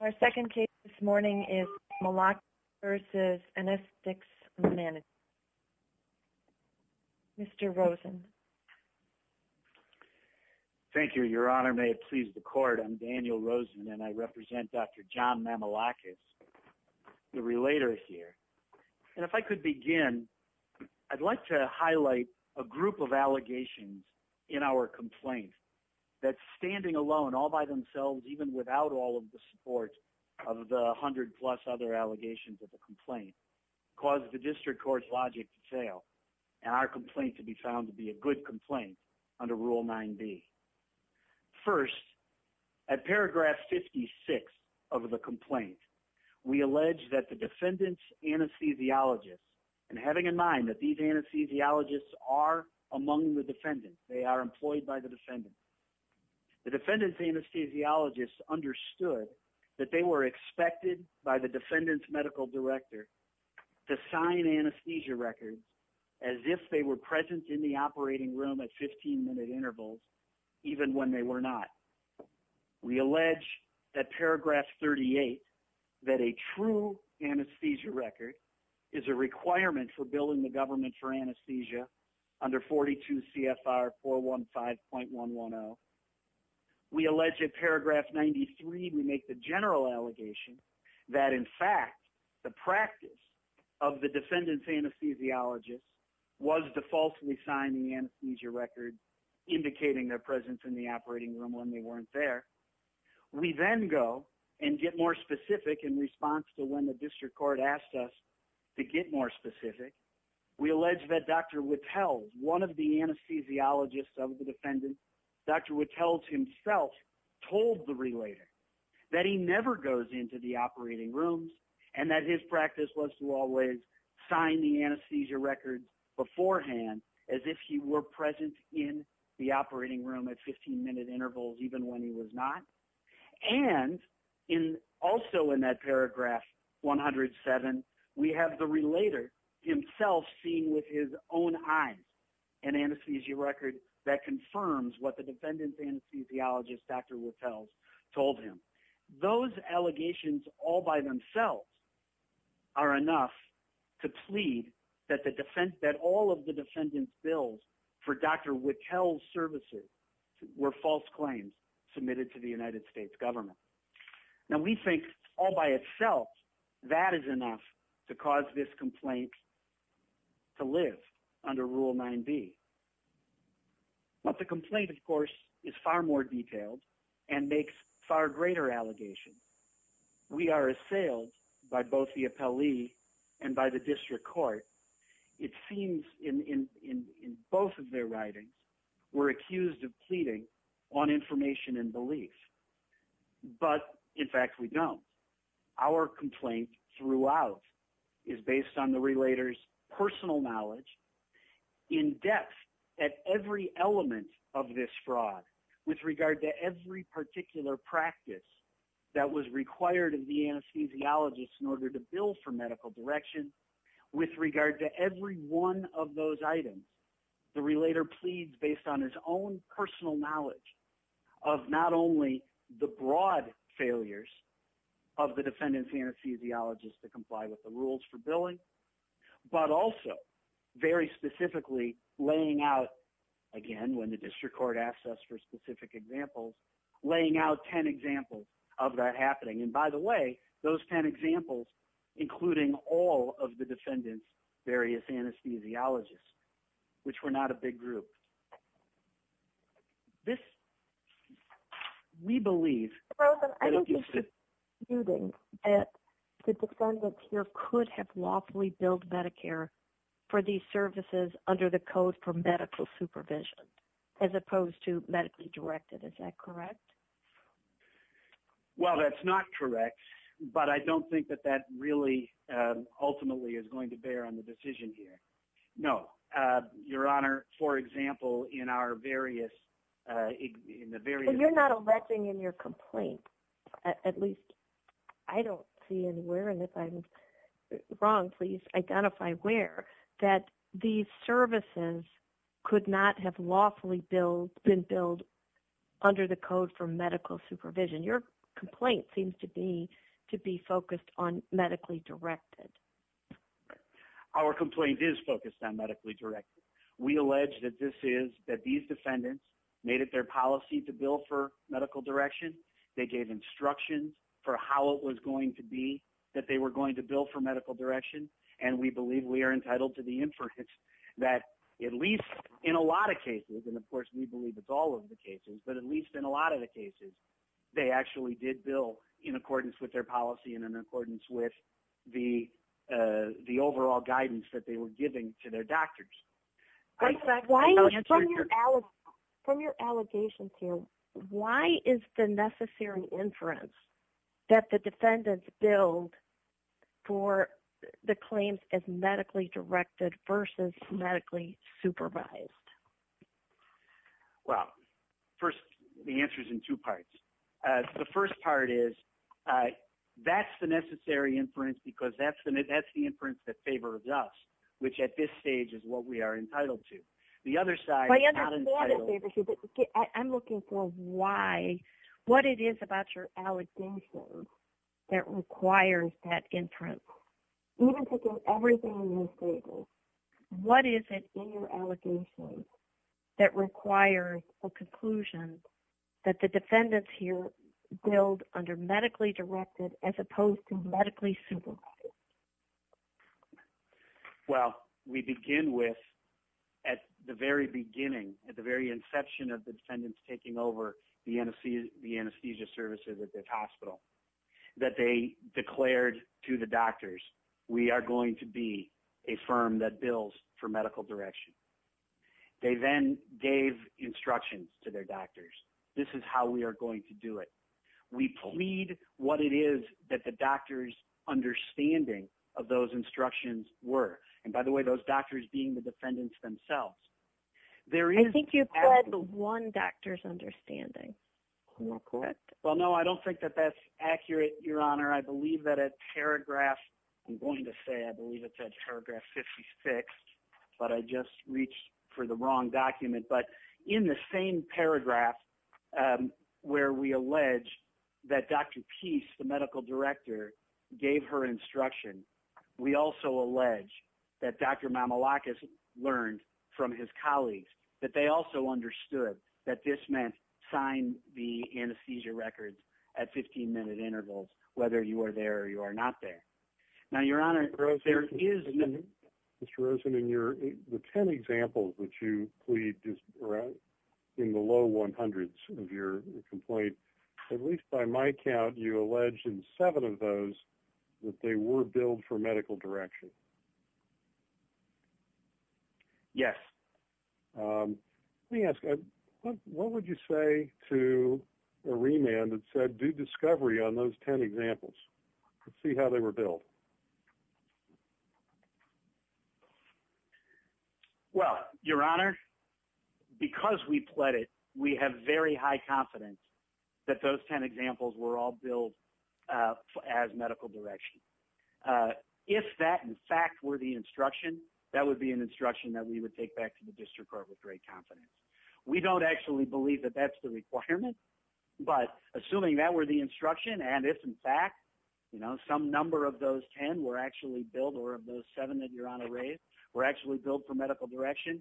Our second case this morning is Mamalakis v. Anesthetix Management LLC. Mr. Rosen. Thank you. Your Honor, may it please the Court, I'm Daniel Rosen and I represent Dr. John Mamalakis v. Anesthetix Management LLC. I'm here today to talk to you about a number of allegations in our complaint that, standing alone, all by themselves, even without all of the support of the 100-plus other allegations of the complaint, caused the District Court's logic to fail and our complaint to be found to be a good complaint under Rule 9b. First, at paragraph 56 of the complaint, we allege that the defendant's anesthesiologists, and having in mind that these anesthesiologists are among the defendants, they are employed by the defendants, the defendant's anesthesiologists understood that they were expected by the defendant's medical director to sign anesthesia records as if they were present in the operating room at 15-minute intervals, even when they were not. We allege at paragraph 38 that a true anesthesia record is a requirement for billing the government for anesthesia under 42 CFR 415.110. We allege at paragraph 93 we make the general allegation that, in fact, the practice of the defendant's anesthesiologists was to falsely sign the anesthesia record indicating their presence in the operating room when they weren't there. We then go and get more specific in response to when the District Court asked us to get more specific. We allege that Dr. Wittels, one of the anesthesiologists of the defendant, Dr. Wittels himself told the relator that he never goes into the operating rooms and that his practice was to always sign the anesthesia records beforehand as if he were present in the operating room at 15-minute intervals even when he was not. And also in that paragraph 107, we have the relator himself seeing with his own eyes an anesthesia record that confirms what the defendant's anesthesiologist, Dr. Wittels, told him. Those allegations all by themselves are enough to plead that all of the defendant's bills for Dr. Wittels' services were false claims submitted to the United States government. Now, we think all by itself that is enough to cause this complaint to live under Rule 9b. But the complaint, of course, is far more detailed and makes far greater allegations. We are assailed by both the appellee and by the District Court. It seems in both of their writings, we're accused of pleading on information and belief. But, in fact, we don't. Our complaint throughout is based on the relator's personal knowledge in depth at every element of this fraud with regard to every particular practice that was required of the anesthesiologist in order to bill for medical direction with regard to every one of those items. The relator pleads based on his own personal knowledge of not only the broad failures of the defendant's anesthesiologist to comply with the rules for billing, but also, very specifically, laying out, again, when the District Court asks us for specific examples, laying out 10 examples of that happening. And, by the way, those 10 examples, including all of the defendant's various anesthesiologists, which were not a big group. This, we believe... I think you're subduing that the defendant here could have lawfully billed Medicare for these services under the Code for Medical Supervision, as opposed to medically directed. Is that correct? Well, that's not correct, but I don't think that that really ultimately is going to bear on the decision here. No. Your Honor, for example, in our various... You're not alleging in your complaint, at least I don't see anywhere, and if I'm wrong, please identify where, that these services could not have lawfully been billed under the Code for Medical Supervision. Your complaint seems to be focused on medically directed. Our complaint is focused on medically directed. We allege that these defendants made it their policy to bill for medical direction. They gave instructions for how it was going to be that they were going to bill for medical direction, and we believe we are entitled to the inference that at least in a lot of cases, and of course we believe it's all of the cases, but at least in a lot of the cases, they actually did bill in accordance with their policy and in accordance with the overall guidance that they were giving to their doctors. From your allegations here, why is the necessary inference that the defendants billed for the claims as medically directed versus medically supervised? Well, first, the answer is in two parts. The first part is that's the necessary inference because that's the inference that favors us, which at this stage is what we are entitled to. The other side is not entitled. I understand it favors you, but I'm looking for why, what it is about your allegations that requires that inference. Even taking everything in your statement, what is it in your allegations that requires a conclusion that the defendants here billed under medically directed as opposed to medically supervised? Well, we begin with at the very beginning, at the very inception of the defendants taking over the anesthesia services at this hospital, that they declared to the doctors, we are going to be a firm that bills for medical direction. They then gave instructions to their doctors, this is how we are going to do it. We plead what it is that the instructions were. And by the way, those doctors being the defendants themselves. I think you've said one doctor's understanding. Well, no, I don't think that that's accurate, Your Honor. I believe that a paragraph, I'm going to say I believe it's at paragraph 56, but I just reached for the wrong document. But in the same paragraph where we allege that Dr. Peace, the medical director, gave her instruction, we also allege that Dr. Mamoulakis learned from his colleagues that they also understood that this meant sign the anesthesia records at 15 minute intervals, whether you are there or you are not there. Now, Your Honor, there is Mr. Rosen in your 10 examples that you plead in the low 100s of your complaint. At least by my count, you allege in seven of those that they were billed for medical direction. Yes. Let me ask, what would you say to a remand that said do discovery on those 10 examples? Let's see how they were billed. Well, Your Honor, because we pled it, we have very high confidence that those 10 examples were all billed as medical direction. If that in fact were the instruction, that would be an instruction that we would take back to the district court with great confidence. We don't actually believe that that's the requirement, but assuming that were the instruction, and if in fact some number of those 10 were actually billed or of those seven that Your Honor raised were actually billed for medical direction,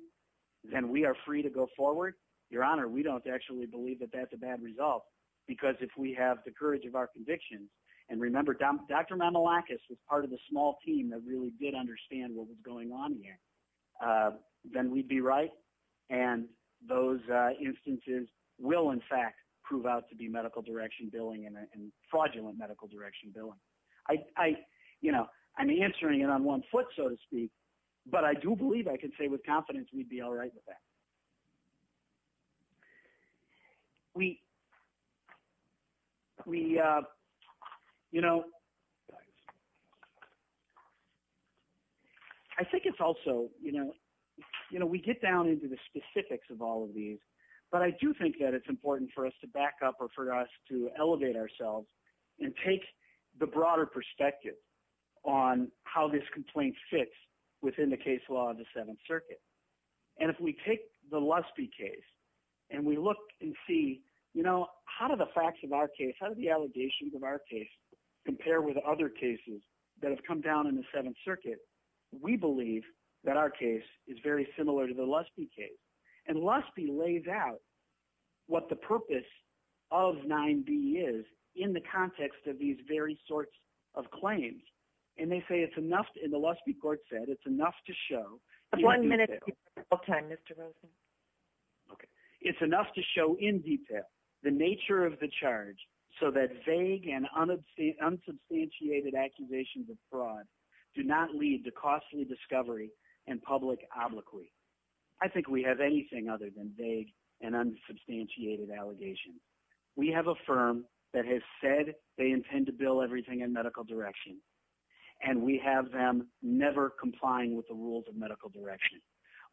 then we are free to go forward. Your Honor, we don't actually believe that that's a bad result, because if we have the courage of our convictions, and remember, Dr. Mamoulakis was part of the small team that really did understand what was going on here, then we'd be right, and those instances will in fact prove out to be medical direction billing and fraudulent medical direction billing. I'm answering it on one foot, so to speak, but I do believe I can say with confidence we'd be all right with that. I think it's also, you know, we get down into the specifics of all of these, but I do think that it's important for us to back up or for us to elevate ourselves and take the broader perspective on how this complaint fits within the case law of the Seventh Circuit. And if we take the Lusby case and we look and see how do the facts of our case, how do the allegations of our case compare with other cases that have come down in the Seventh Circuit, we believe that our case is very similar to the Lusby case. And Lusby lays out what the purpose of 9B is in the context of these very sorts of claims. And they say it's enough, and the Lusby court said it's enough to show. One minute of your time, Mr. Rosen. It's enough to show in detail the nature of the charge so that vague and unsubstantiated accusations of fraud do not lead to costly discovery and public obloquy. I think we have anything other than vague and unsubstantiated allegations. We have a firm that has said they intend to bill everything in medical direction, and we have them never complying with the rules of medical direction.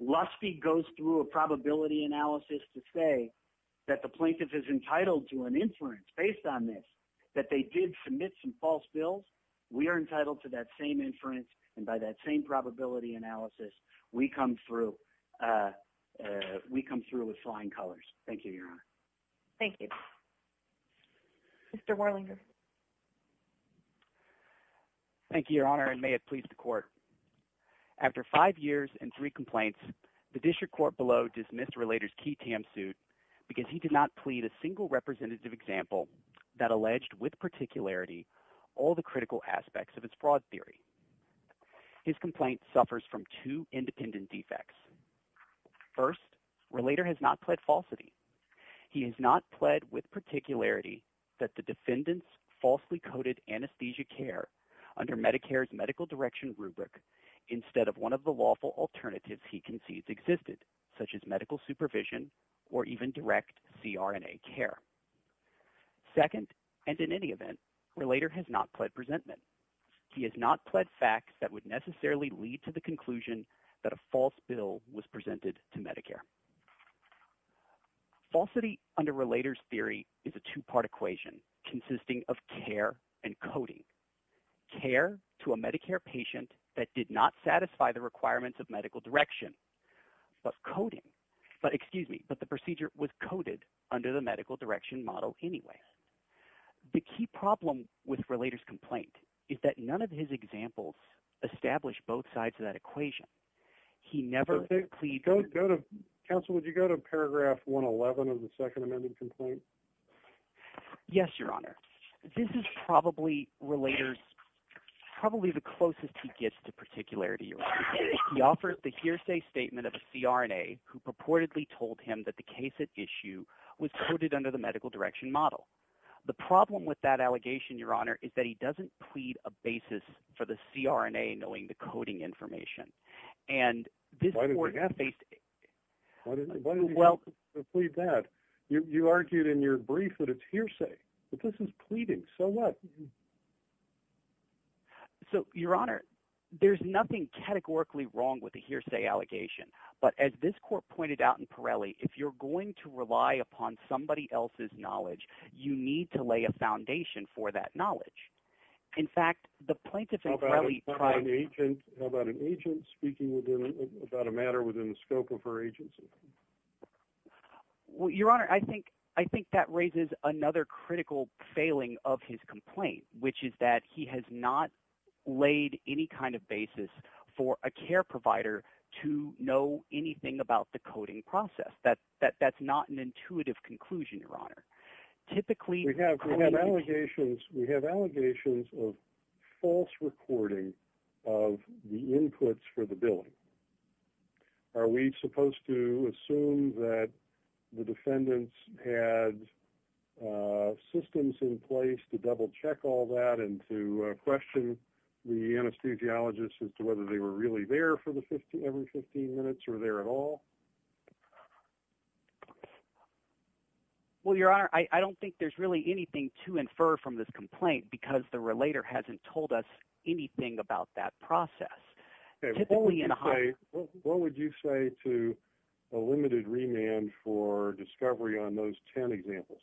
Lusby goes through a probability analysis to say that the plaintiff is entitled to an inference based on this, that they did submit some false bills. We are entitled to that same inference, and by that same probability analysis, we come through with flying colors. Thank you, Your Honor. Thank you. Mr. Warlinger. Thank you, Your Honor, and may it please the court. After five years and three complaints, the district court below dismissed Relator's key TAM suit because he did not plead a single representative example that alleged with particularity all the critical aspects of its broad theory. His complaint suffers from two independent defects. First, Relator has not pled falsity. He has not pled with particularity that the defendant's falsely coded anesthesia care under Medicare's medical direction rubric instead of one of the lawful alternatives he concedes existed, such as that would necessarily lead to the conclusion that a false bill was presented to Medicare. Falsity under Relator's theory is a two-part equation consisting of care and coding, care to a Medicare patient that did not satisfy the requirements of medical direction, but coding – excuse me, but the procedure was coded under the medical direction model anyway. The key problem with Relator's complaint is that none of his examples establish both sides of that equation. He never – Counsel, would you go to paragraph 111 of the second amended complaint? Yes, Your Honor. This is probably Relator's – probably the closest he gets to particularity. He offers the hearsay statement of a CRNA who purportedly told him that the case at issue was coded under the medical direction model. The problem with that allegation, Your Honor, is that he doesn't plead a basis for the CRNA knowing the coding information. Why didn't you plead that? You argued in your brief that it's hearsay, but this is pleading. So what? So, Your Honor, there's nothing categorically wrong with the hearsay allegation. But as this court pointed out in Pirelli, if you're going to rely upon somebody else's knowledge, you need to lay a foundation for that knowledge. In fact, the plaintiff in Pirelli tried – How about an agent speaking about a matter within the scope of her agency? Your Honor, I think that raises another critical failing of his complaint, which is that he has not laid any kind of basis for a care provider to know anything about the coding process. That's not an intuitive conclusion, Your Honor. We have allegations of false recording of the inputs for the billing. Are we supposed to assume that the defendants had systems in place to double-check all that and to question the anesthesiologist as to whether they were really there for every 15 minutes or there at all? Well, Your Honor, I don't think there's really anything to infer from this complaint because the relator hasn't told us anything about that process. What would you say to a limited remand for discovery on those 10 examples?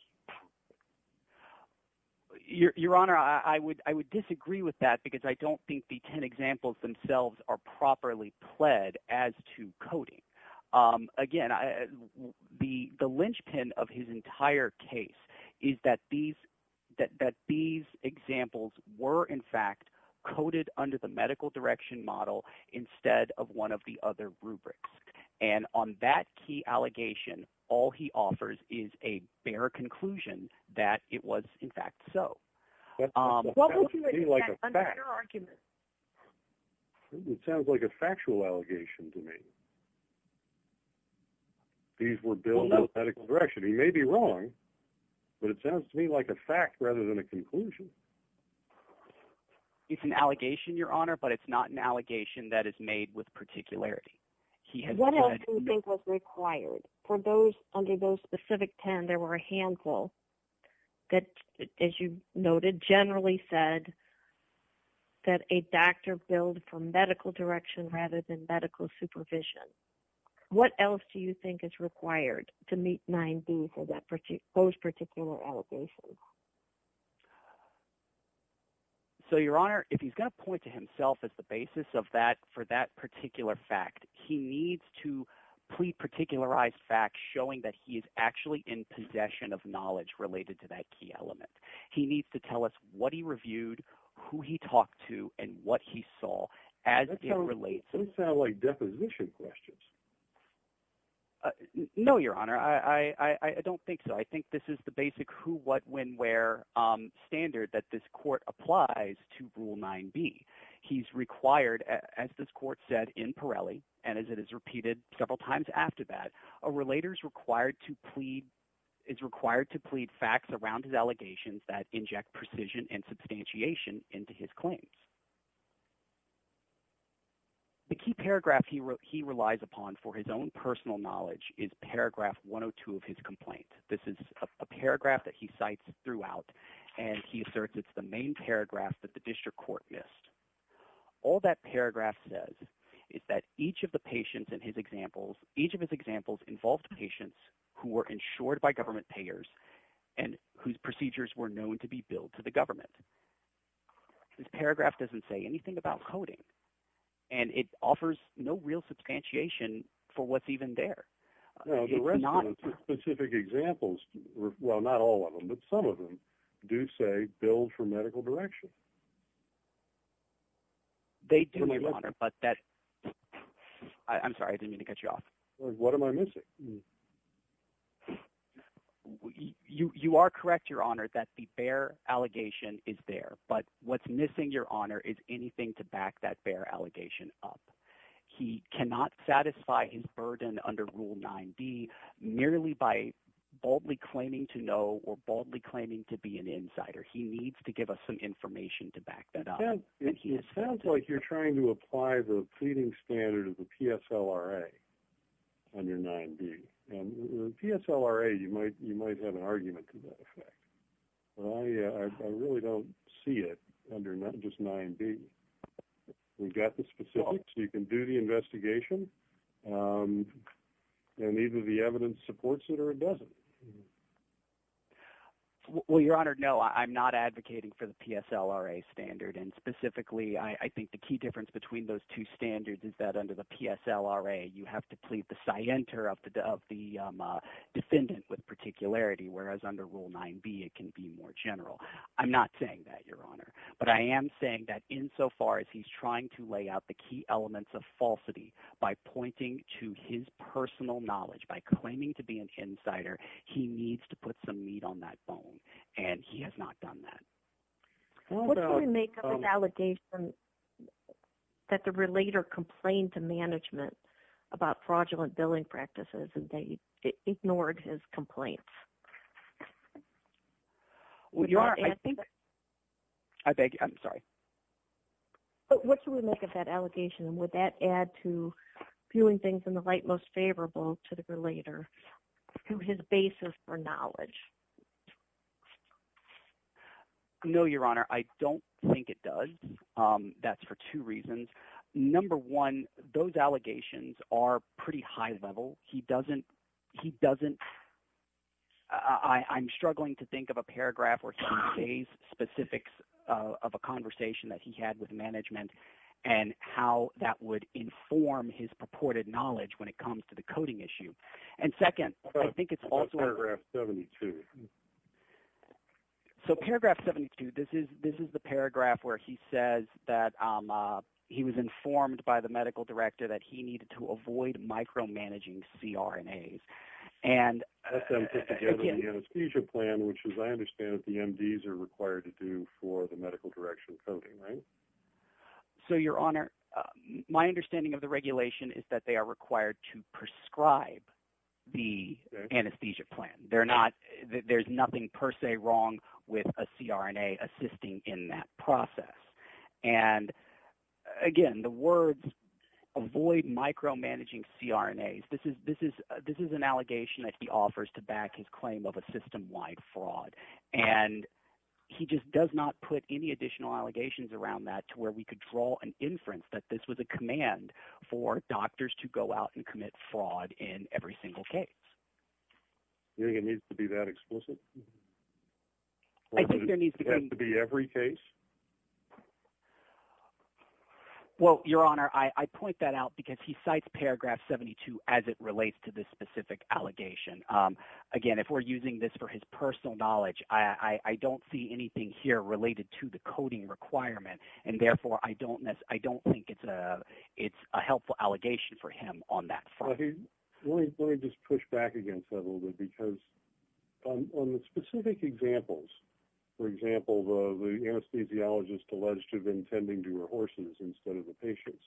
Your Honor, I would disagree with that because I don't think the 10 examples themselves are properly pled as to coding. Again, the linchpin of his entire case is that these examples were, in fact, coded under the medical direction model instead of one of the other rubrics. And on that key allegation, all he offers is a bare conclusion that it was, in fact, so. That sounds to me like a factual allegation to me. These were billed in the medical direction. He may be wrong, but it sounds to me like a fact rather than a conclusion. It's an allegation, Your Honor, but it's not an allegation that is made with particularity. What else do you think was required? For those – under those specific 10, there were a handful that, as you noted, generally said that a doctor billed from medical direction rather than medical supervision. What else do you think is required to meet 9b for those particular allegations? So, Your Honor, if he's going to point to himself as the basis of that for that particular fact, he needs to plead particularized facts showing that he is actually in possession of knowledge related to that key element. He needs to tell us what he reviewed, who he talked to, and what he saw as it relates. That doesn't sound like deposition questions. No, Your Honor. I don't think so. I think this is the basic who, what, when, where standard that this court applies to Rule 9b. He's required, as this court said in Pirelli, and as it is repeated several times after that, a relator is required to plead – is required to plead facts around his allegations that inject precision and substantiation into his claims. The key paragraph he relies upon for his own personal knowledge is paragraph 102 of his complaint. This is a paragraph that he cites throughout, and he asserts it's the main paragraph that the district court missed. All that paragraph says is that each of the patients in his examples – each of his examples involved patients who were insured by government payers and whose procedures were known to be billed to the government. This paragraph doesn't say anything about coding, and it offers no real substantiation for what's even there. The rest of the specific examples – well, not all of them, but some of them – do say billed for medical direction. They do, Your Honor, but that – I'm sorry. I didn't mean to cut you off. What am I missing? You are correct, Your Honor, that the bare allegation is there, but what's missing, Your Honor, is anything to back that bare allegation up. He cannot satisfy his burden under Rule 9b merely by boldly claiming to know or boldly claiming to be an insider. He needs to give us some information to back that up. It sounds like you're trying to apply the pleading standard of the PSLRA under 9b, and the PSLRA – you might have an argument to that effect. I really don't see it under just 9b. We've got the specifics. You can do the investigation, and either the evidence supports it or it doesn't. Well, Your Honor, no, I'm not advocating for the PSLRA standard. And specifically, I think the key difference between those two standards is that under the PSLRA you have to plead the scienter of the defendant with particularity, whereas under Rule 9b it can be more general. I'm not saying that, Your Honor. But I am saying that insofar as he's trying to lay out the key elements of falsity by pointing to his personal knowledge, by claiming to be an insider, he needs to put some meat on that bone, and he has not done that. What can we make of the allegation that the relator complained to management about fraudulent billing practices, and they ignored his complaints? Well, Your Honor, I think – I beg your – I'm sorry. What can we make of that allegation, and would that add to viewing things in the light most favorable to the relator through his basis for knowledge? No, Your Honor. I don't think it does. That's for two reasons. Number one, those allegations are pretty high-level. He doesn't – I'm struggling to think of a paragraph where he says specifics of a conversation that he had with management and how that would inform his purported knowledge when it comes to the coding issue. And second, I think it's also – Paragraph 72. So paragraph 72, this is the paragraph where he says that he was informed by the medical director that he needed to avoid micromanaging CRNAs. That's put together in the anesthesia plan, which, as I understand it, the MDs are required to do for the medical direction coding, right? So, Your Honor, my understanding of the regulation is that they are required to prescribe the anesthesia plan. They're not – there's nothing per se wrong with a CRNA assisting in that process. And again, the words avoid micromanaging CRNAs, this is an allegation that he offers to back his claim of a system-wide fraud. And he just does not put any additional allegations around that to where we could draw an inference that this was a command for doctors to go out and commit fraud in every single case. Do you think it needs to be that explicit? I think there needs to be – Or does it have to be every case? Well, Your Honor, I point that out because he cites paragraph 72 as it relates to this specific allegation. Again, if we're using this for his personal knowledge, I don't see anything here related to the coding requirement. And therefore, I don't think it's a helpful allegation for him on that front. Let me just push back against that a little bit because on the specific examples, for example, the anesthesiologist alleged to have been tending to her horses instead of the patients.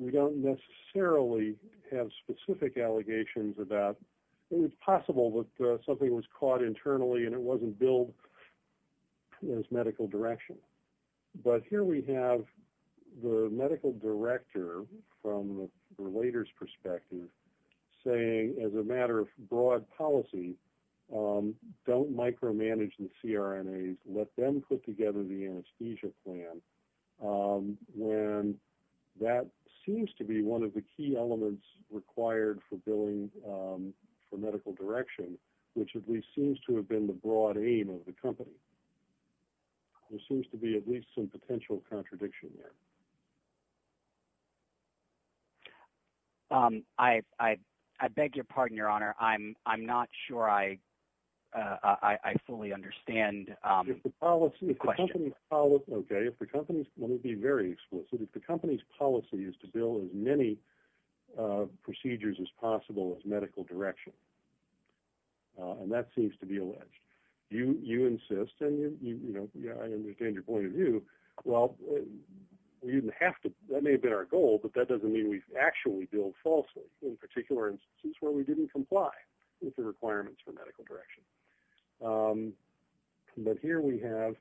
We don't necessarily have specific allegations about – it's possible that something was caught internally and it wasn't billed as medical direction. But here we have the medical director from the relator's perspective saying, as a matter of broad policy, don't micromanage the CRNAs. Let them put together the anesthesia plan when that seems to be one of the key elements required for billing for medical direction, which at least seems to have been the broad aim of the company. There seems to be at least some potential contradiction there. I beg your pardon, Your Honor. I'm not sure I fully understand the question. Okay. Let me be very explicit. If the company's policy is to bill as many procedures as possible as medical direction, and that seems to be alleged, you insist – and I understand your point of view – well, that may have been our goal, but that doesn't mean we've actually billed falsely in particular instances where we didn't comply with the requirements for medical direction. But here we have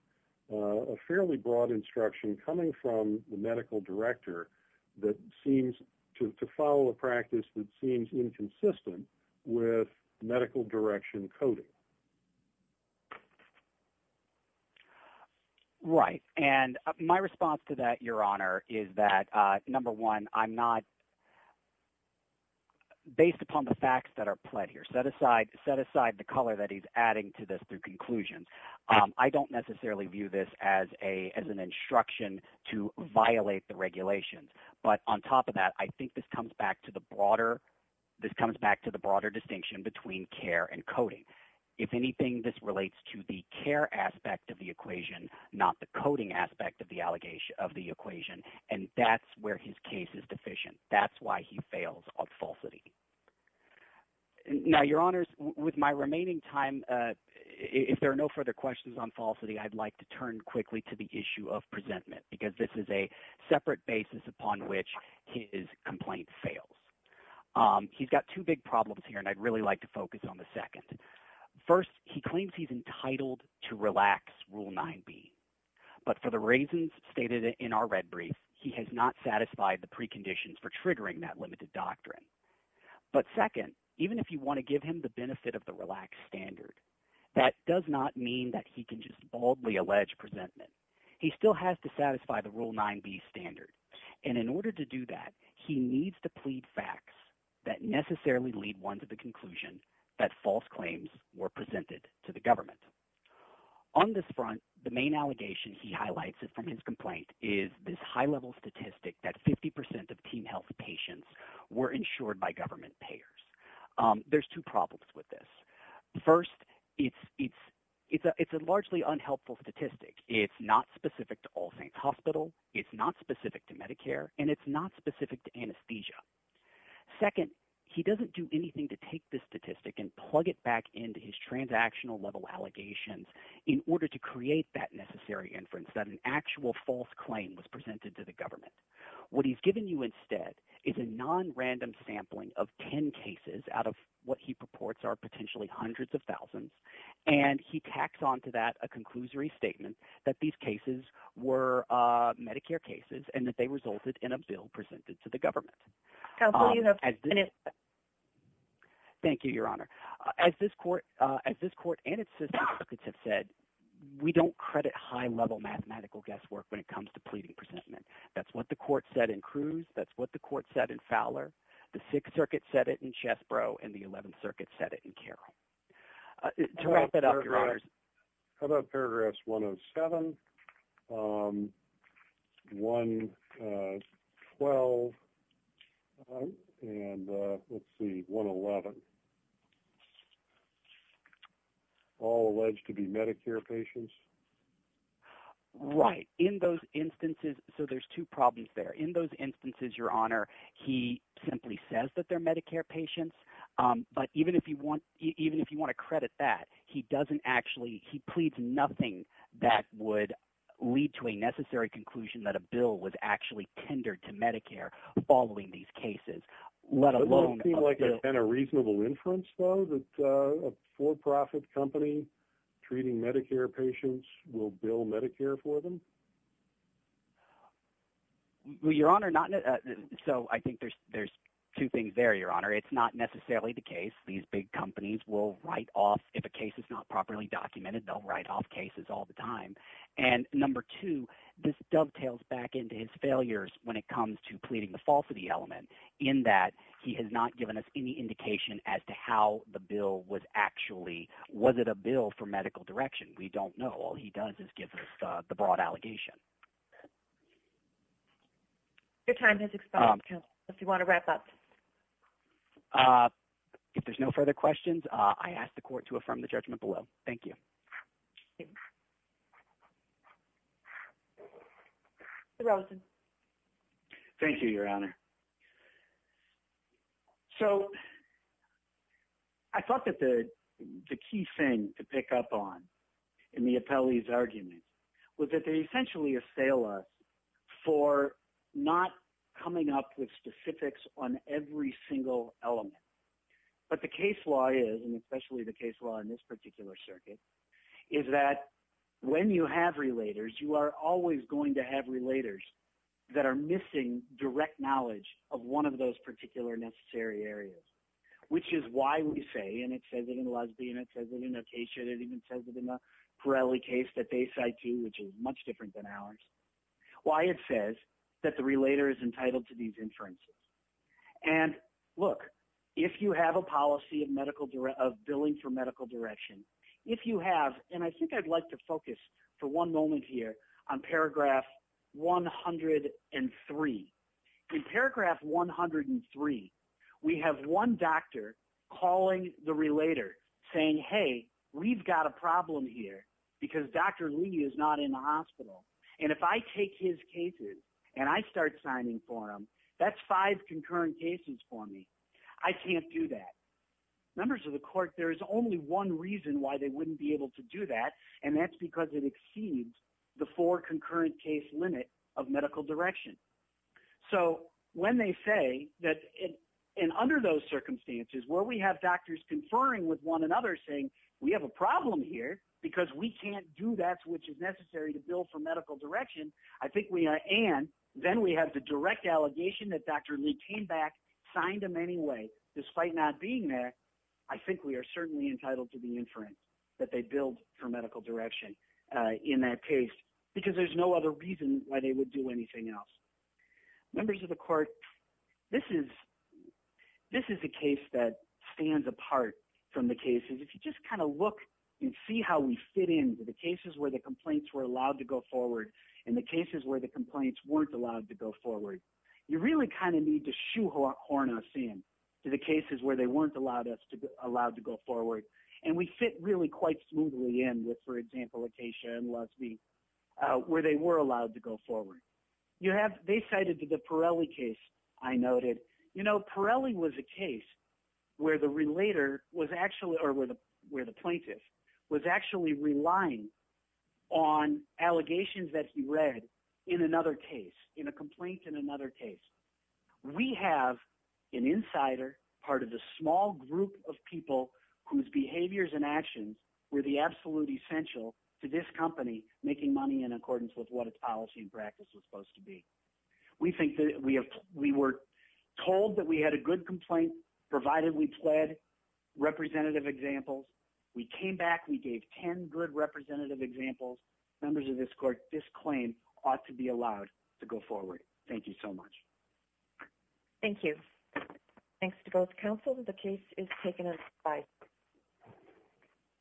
a fairly broad instruction coming from the medical director that seems to follow a practice that seems inconsistent with medical direction coding. Right. And my response to that, Your Honor, is that, number one, I'm not – based upon the facts that are pled here, set aside the color that he's adding to this through conclusions. I don't necessarily view this as an instruction to violate the regulations. But on top of that, I think this comes back to the broader – this comes back to the broader distinction between care and coding. If anything, this relates to the care aspect of the equation, not the coding aspect of the equation. And that's where his case is deficient. That's why he fails on falsity. Now, Your Honors, with my remaining time, if there are no further questions on falsity, I'd like to turn quickly to the issue of presentment because this is a separate basis upon which his complaint fails. He's got two big problems here, and I'd really like to focus on the second. First, he claims he's entitled to relax Rule 9b, but for the reasons stated in our red brief, he has not satisfied the preconditions for triggering that limited doctrine. But second, even if you want to give him the benefit of the relaxed standard, that does not mean that he can just boldly allege presentment. He still has to satisfy the Rule 9b standard, and in order to do that, he needs to plead facts that necessarily lead one to the conclusion that false claims were presented to the government. On this front, the main allegation he highlights from his complaint is this high-level statistic that 50% of teen health patients were insured by government payers. There's two problems with this. First, it's a largely unhelpful statistic. It's not specific to All Saints Hospital. It's not specific to Medicare, and it's not specific to anesthesia. Second, he doesn't do anything to take this statistic and plug it back into his transactional-level allegations in order to create that necessary inference that an actual false claim was presented to the government. What he's given you instead is a nonrandom sampling of 10 cases out of what he purports are potentially hundreds of thousands. And he tacks onto that a conclusory statement that these cases were Medicare cases and that they resulted in a bill presented to the government. Thank you, Your Honor. As this court and its sister circuits have said, we don't credit high-level mathematical guesswork when it comes to pleading presentment. That's what the court said in Cruz. That's what the court said in Fowler. The Sixth Circuit said it in Chesbrough, and the Eleventh Circuit said it in Carroll. To wrap it up, Your Honors… How about paragraphs 107, 112, and let's see, 111, all alleged to be Medicare patients? Right. In those instances – so there's two problems there. In those instances, Your Honor, he simply says that they're Medicare patients. But even if you want to credit that, he doesn't actually – he pleads nothing that would lead to a necessary conclusion that a bill was actually tendered to Medicare following these cases, let alone… Has there been a reasonable inference though that a for-profit company treating Medicare patients will bill Medicare for them? Well, Your Honor, not – so I think there's two things there, Your Honor. It's not necessarily the case. These big companies will write off – if a case is not properly documented, they'll write off cases all the time. And number two, this dovetails back into his failures when it comes to pleading the falsity element in that he has not given us any indication as to how the bill was actually – was it a bill for medical direction? We don't know. All he does is give us the broad allegation. Your time has expired. If you want to wrap up. If there's no further questions, I ask the court to affirm the judgment below. Thank you. Thank you, Your Honor. So I thought that the key thing to pick up on in the appellee's argument was that they essentially assail us for not coming up with specifics on every single element. But the case law is, and especially the case law in this particular circuit, is that when you have relators, you are always going to have relators that are missing direct knowledge of one of those particular necessary areas, which is why we say – and it says it in Lusby, and it says it in Acacia, and it even says it in the Pirelli case that they cite too, which is much different than ours – why it says that the relator is entitled to these inferences. And look, if you have a policy of billing for medical direction, if you have – and I think I'd like to focus for one moment here on paragraph 103. In paragraph 103, we have one doctor calling the relator saying, hey, we've got a problem here because Dr. Lee is not in the hospital. And if I take his cases and I start signing for him, that's five concurrent cases for me. I can't do that. Members of the court, there is only one reason why they wouldn't be able to do that, and that's because it exceeds the four concurrent case limit of medical direction. So when they say that – and under those circumstances, where we have doctors conferring with one another saying, we have a problem here because we can't do that, which is necessary to bill for medical direction, I think we – and then we have the direct allegation that Dr. Lee came back, signed him anyway. So despite not being there, I think we are certainly entitled to the inference that they billed for medical direction in that case because there's no other reason why they would do anything else. Members of the court, this is a case that stands apart from the cases. If you just kind of look and see how we fit into the cases where the complaints were allowed to go forward and the cases where the complaints weren't allowed to go forward, you really kind of need to shoehorn us in. The cases where they weren't allowed to go forward, and we fit really quite smoothly in with, for example, Acacia and Lusby, where they were allowed to go forward. You have – they cited the Pirelli case I noted. Pirelli was a case where the relator was actually – or where the plaintiff was actually relying on allegations that he read in another case, in a complaint in another case. We have an insider, part of the small group of people whose behaviors and actions were the absolute essential to this company making money in accordance with what its policy and practice was supposed to be. We think that – we were told that we had a good complaint provided we pled representative examples. We came back. We gave 10 good representative examples. Members of this court, this claim ought to be allowed to go forward. Thank you so much. Thank you. Thanks to both counsels. The case is taken on five.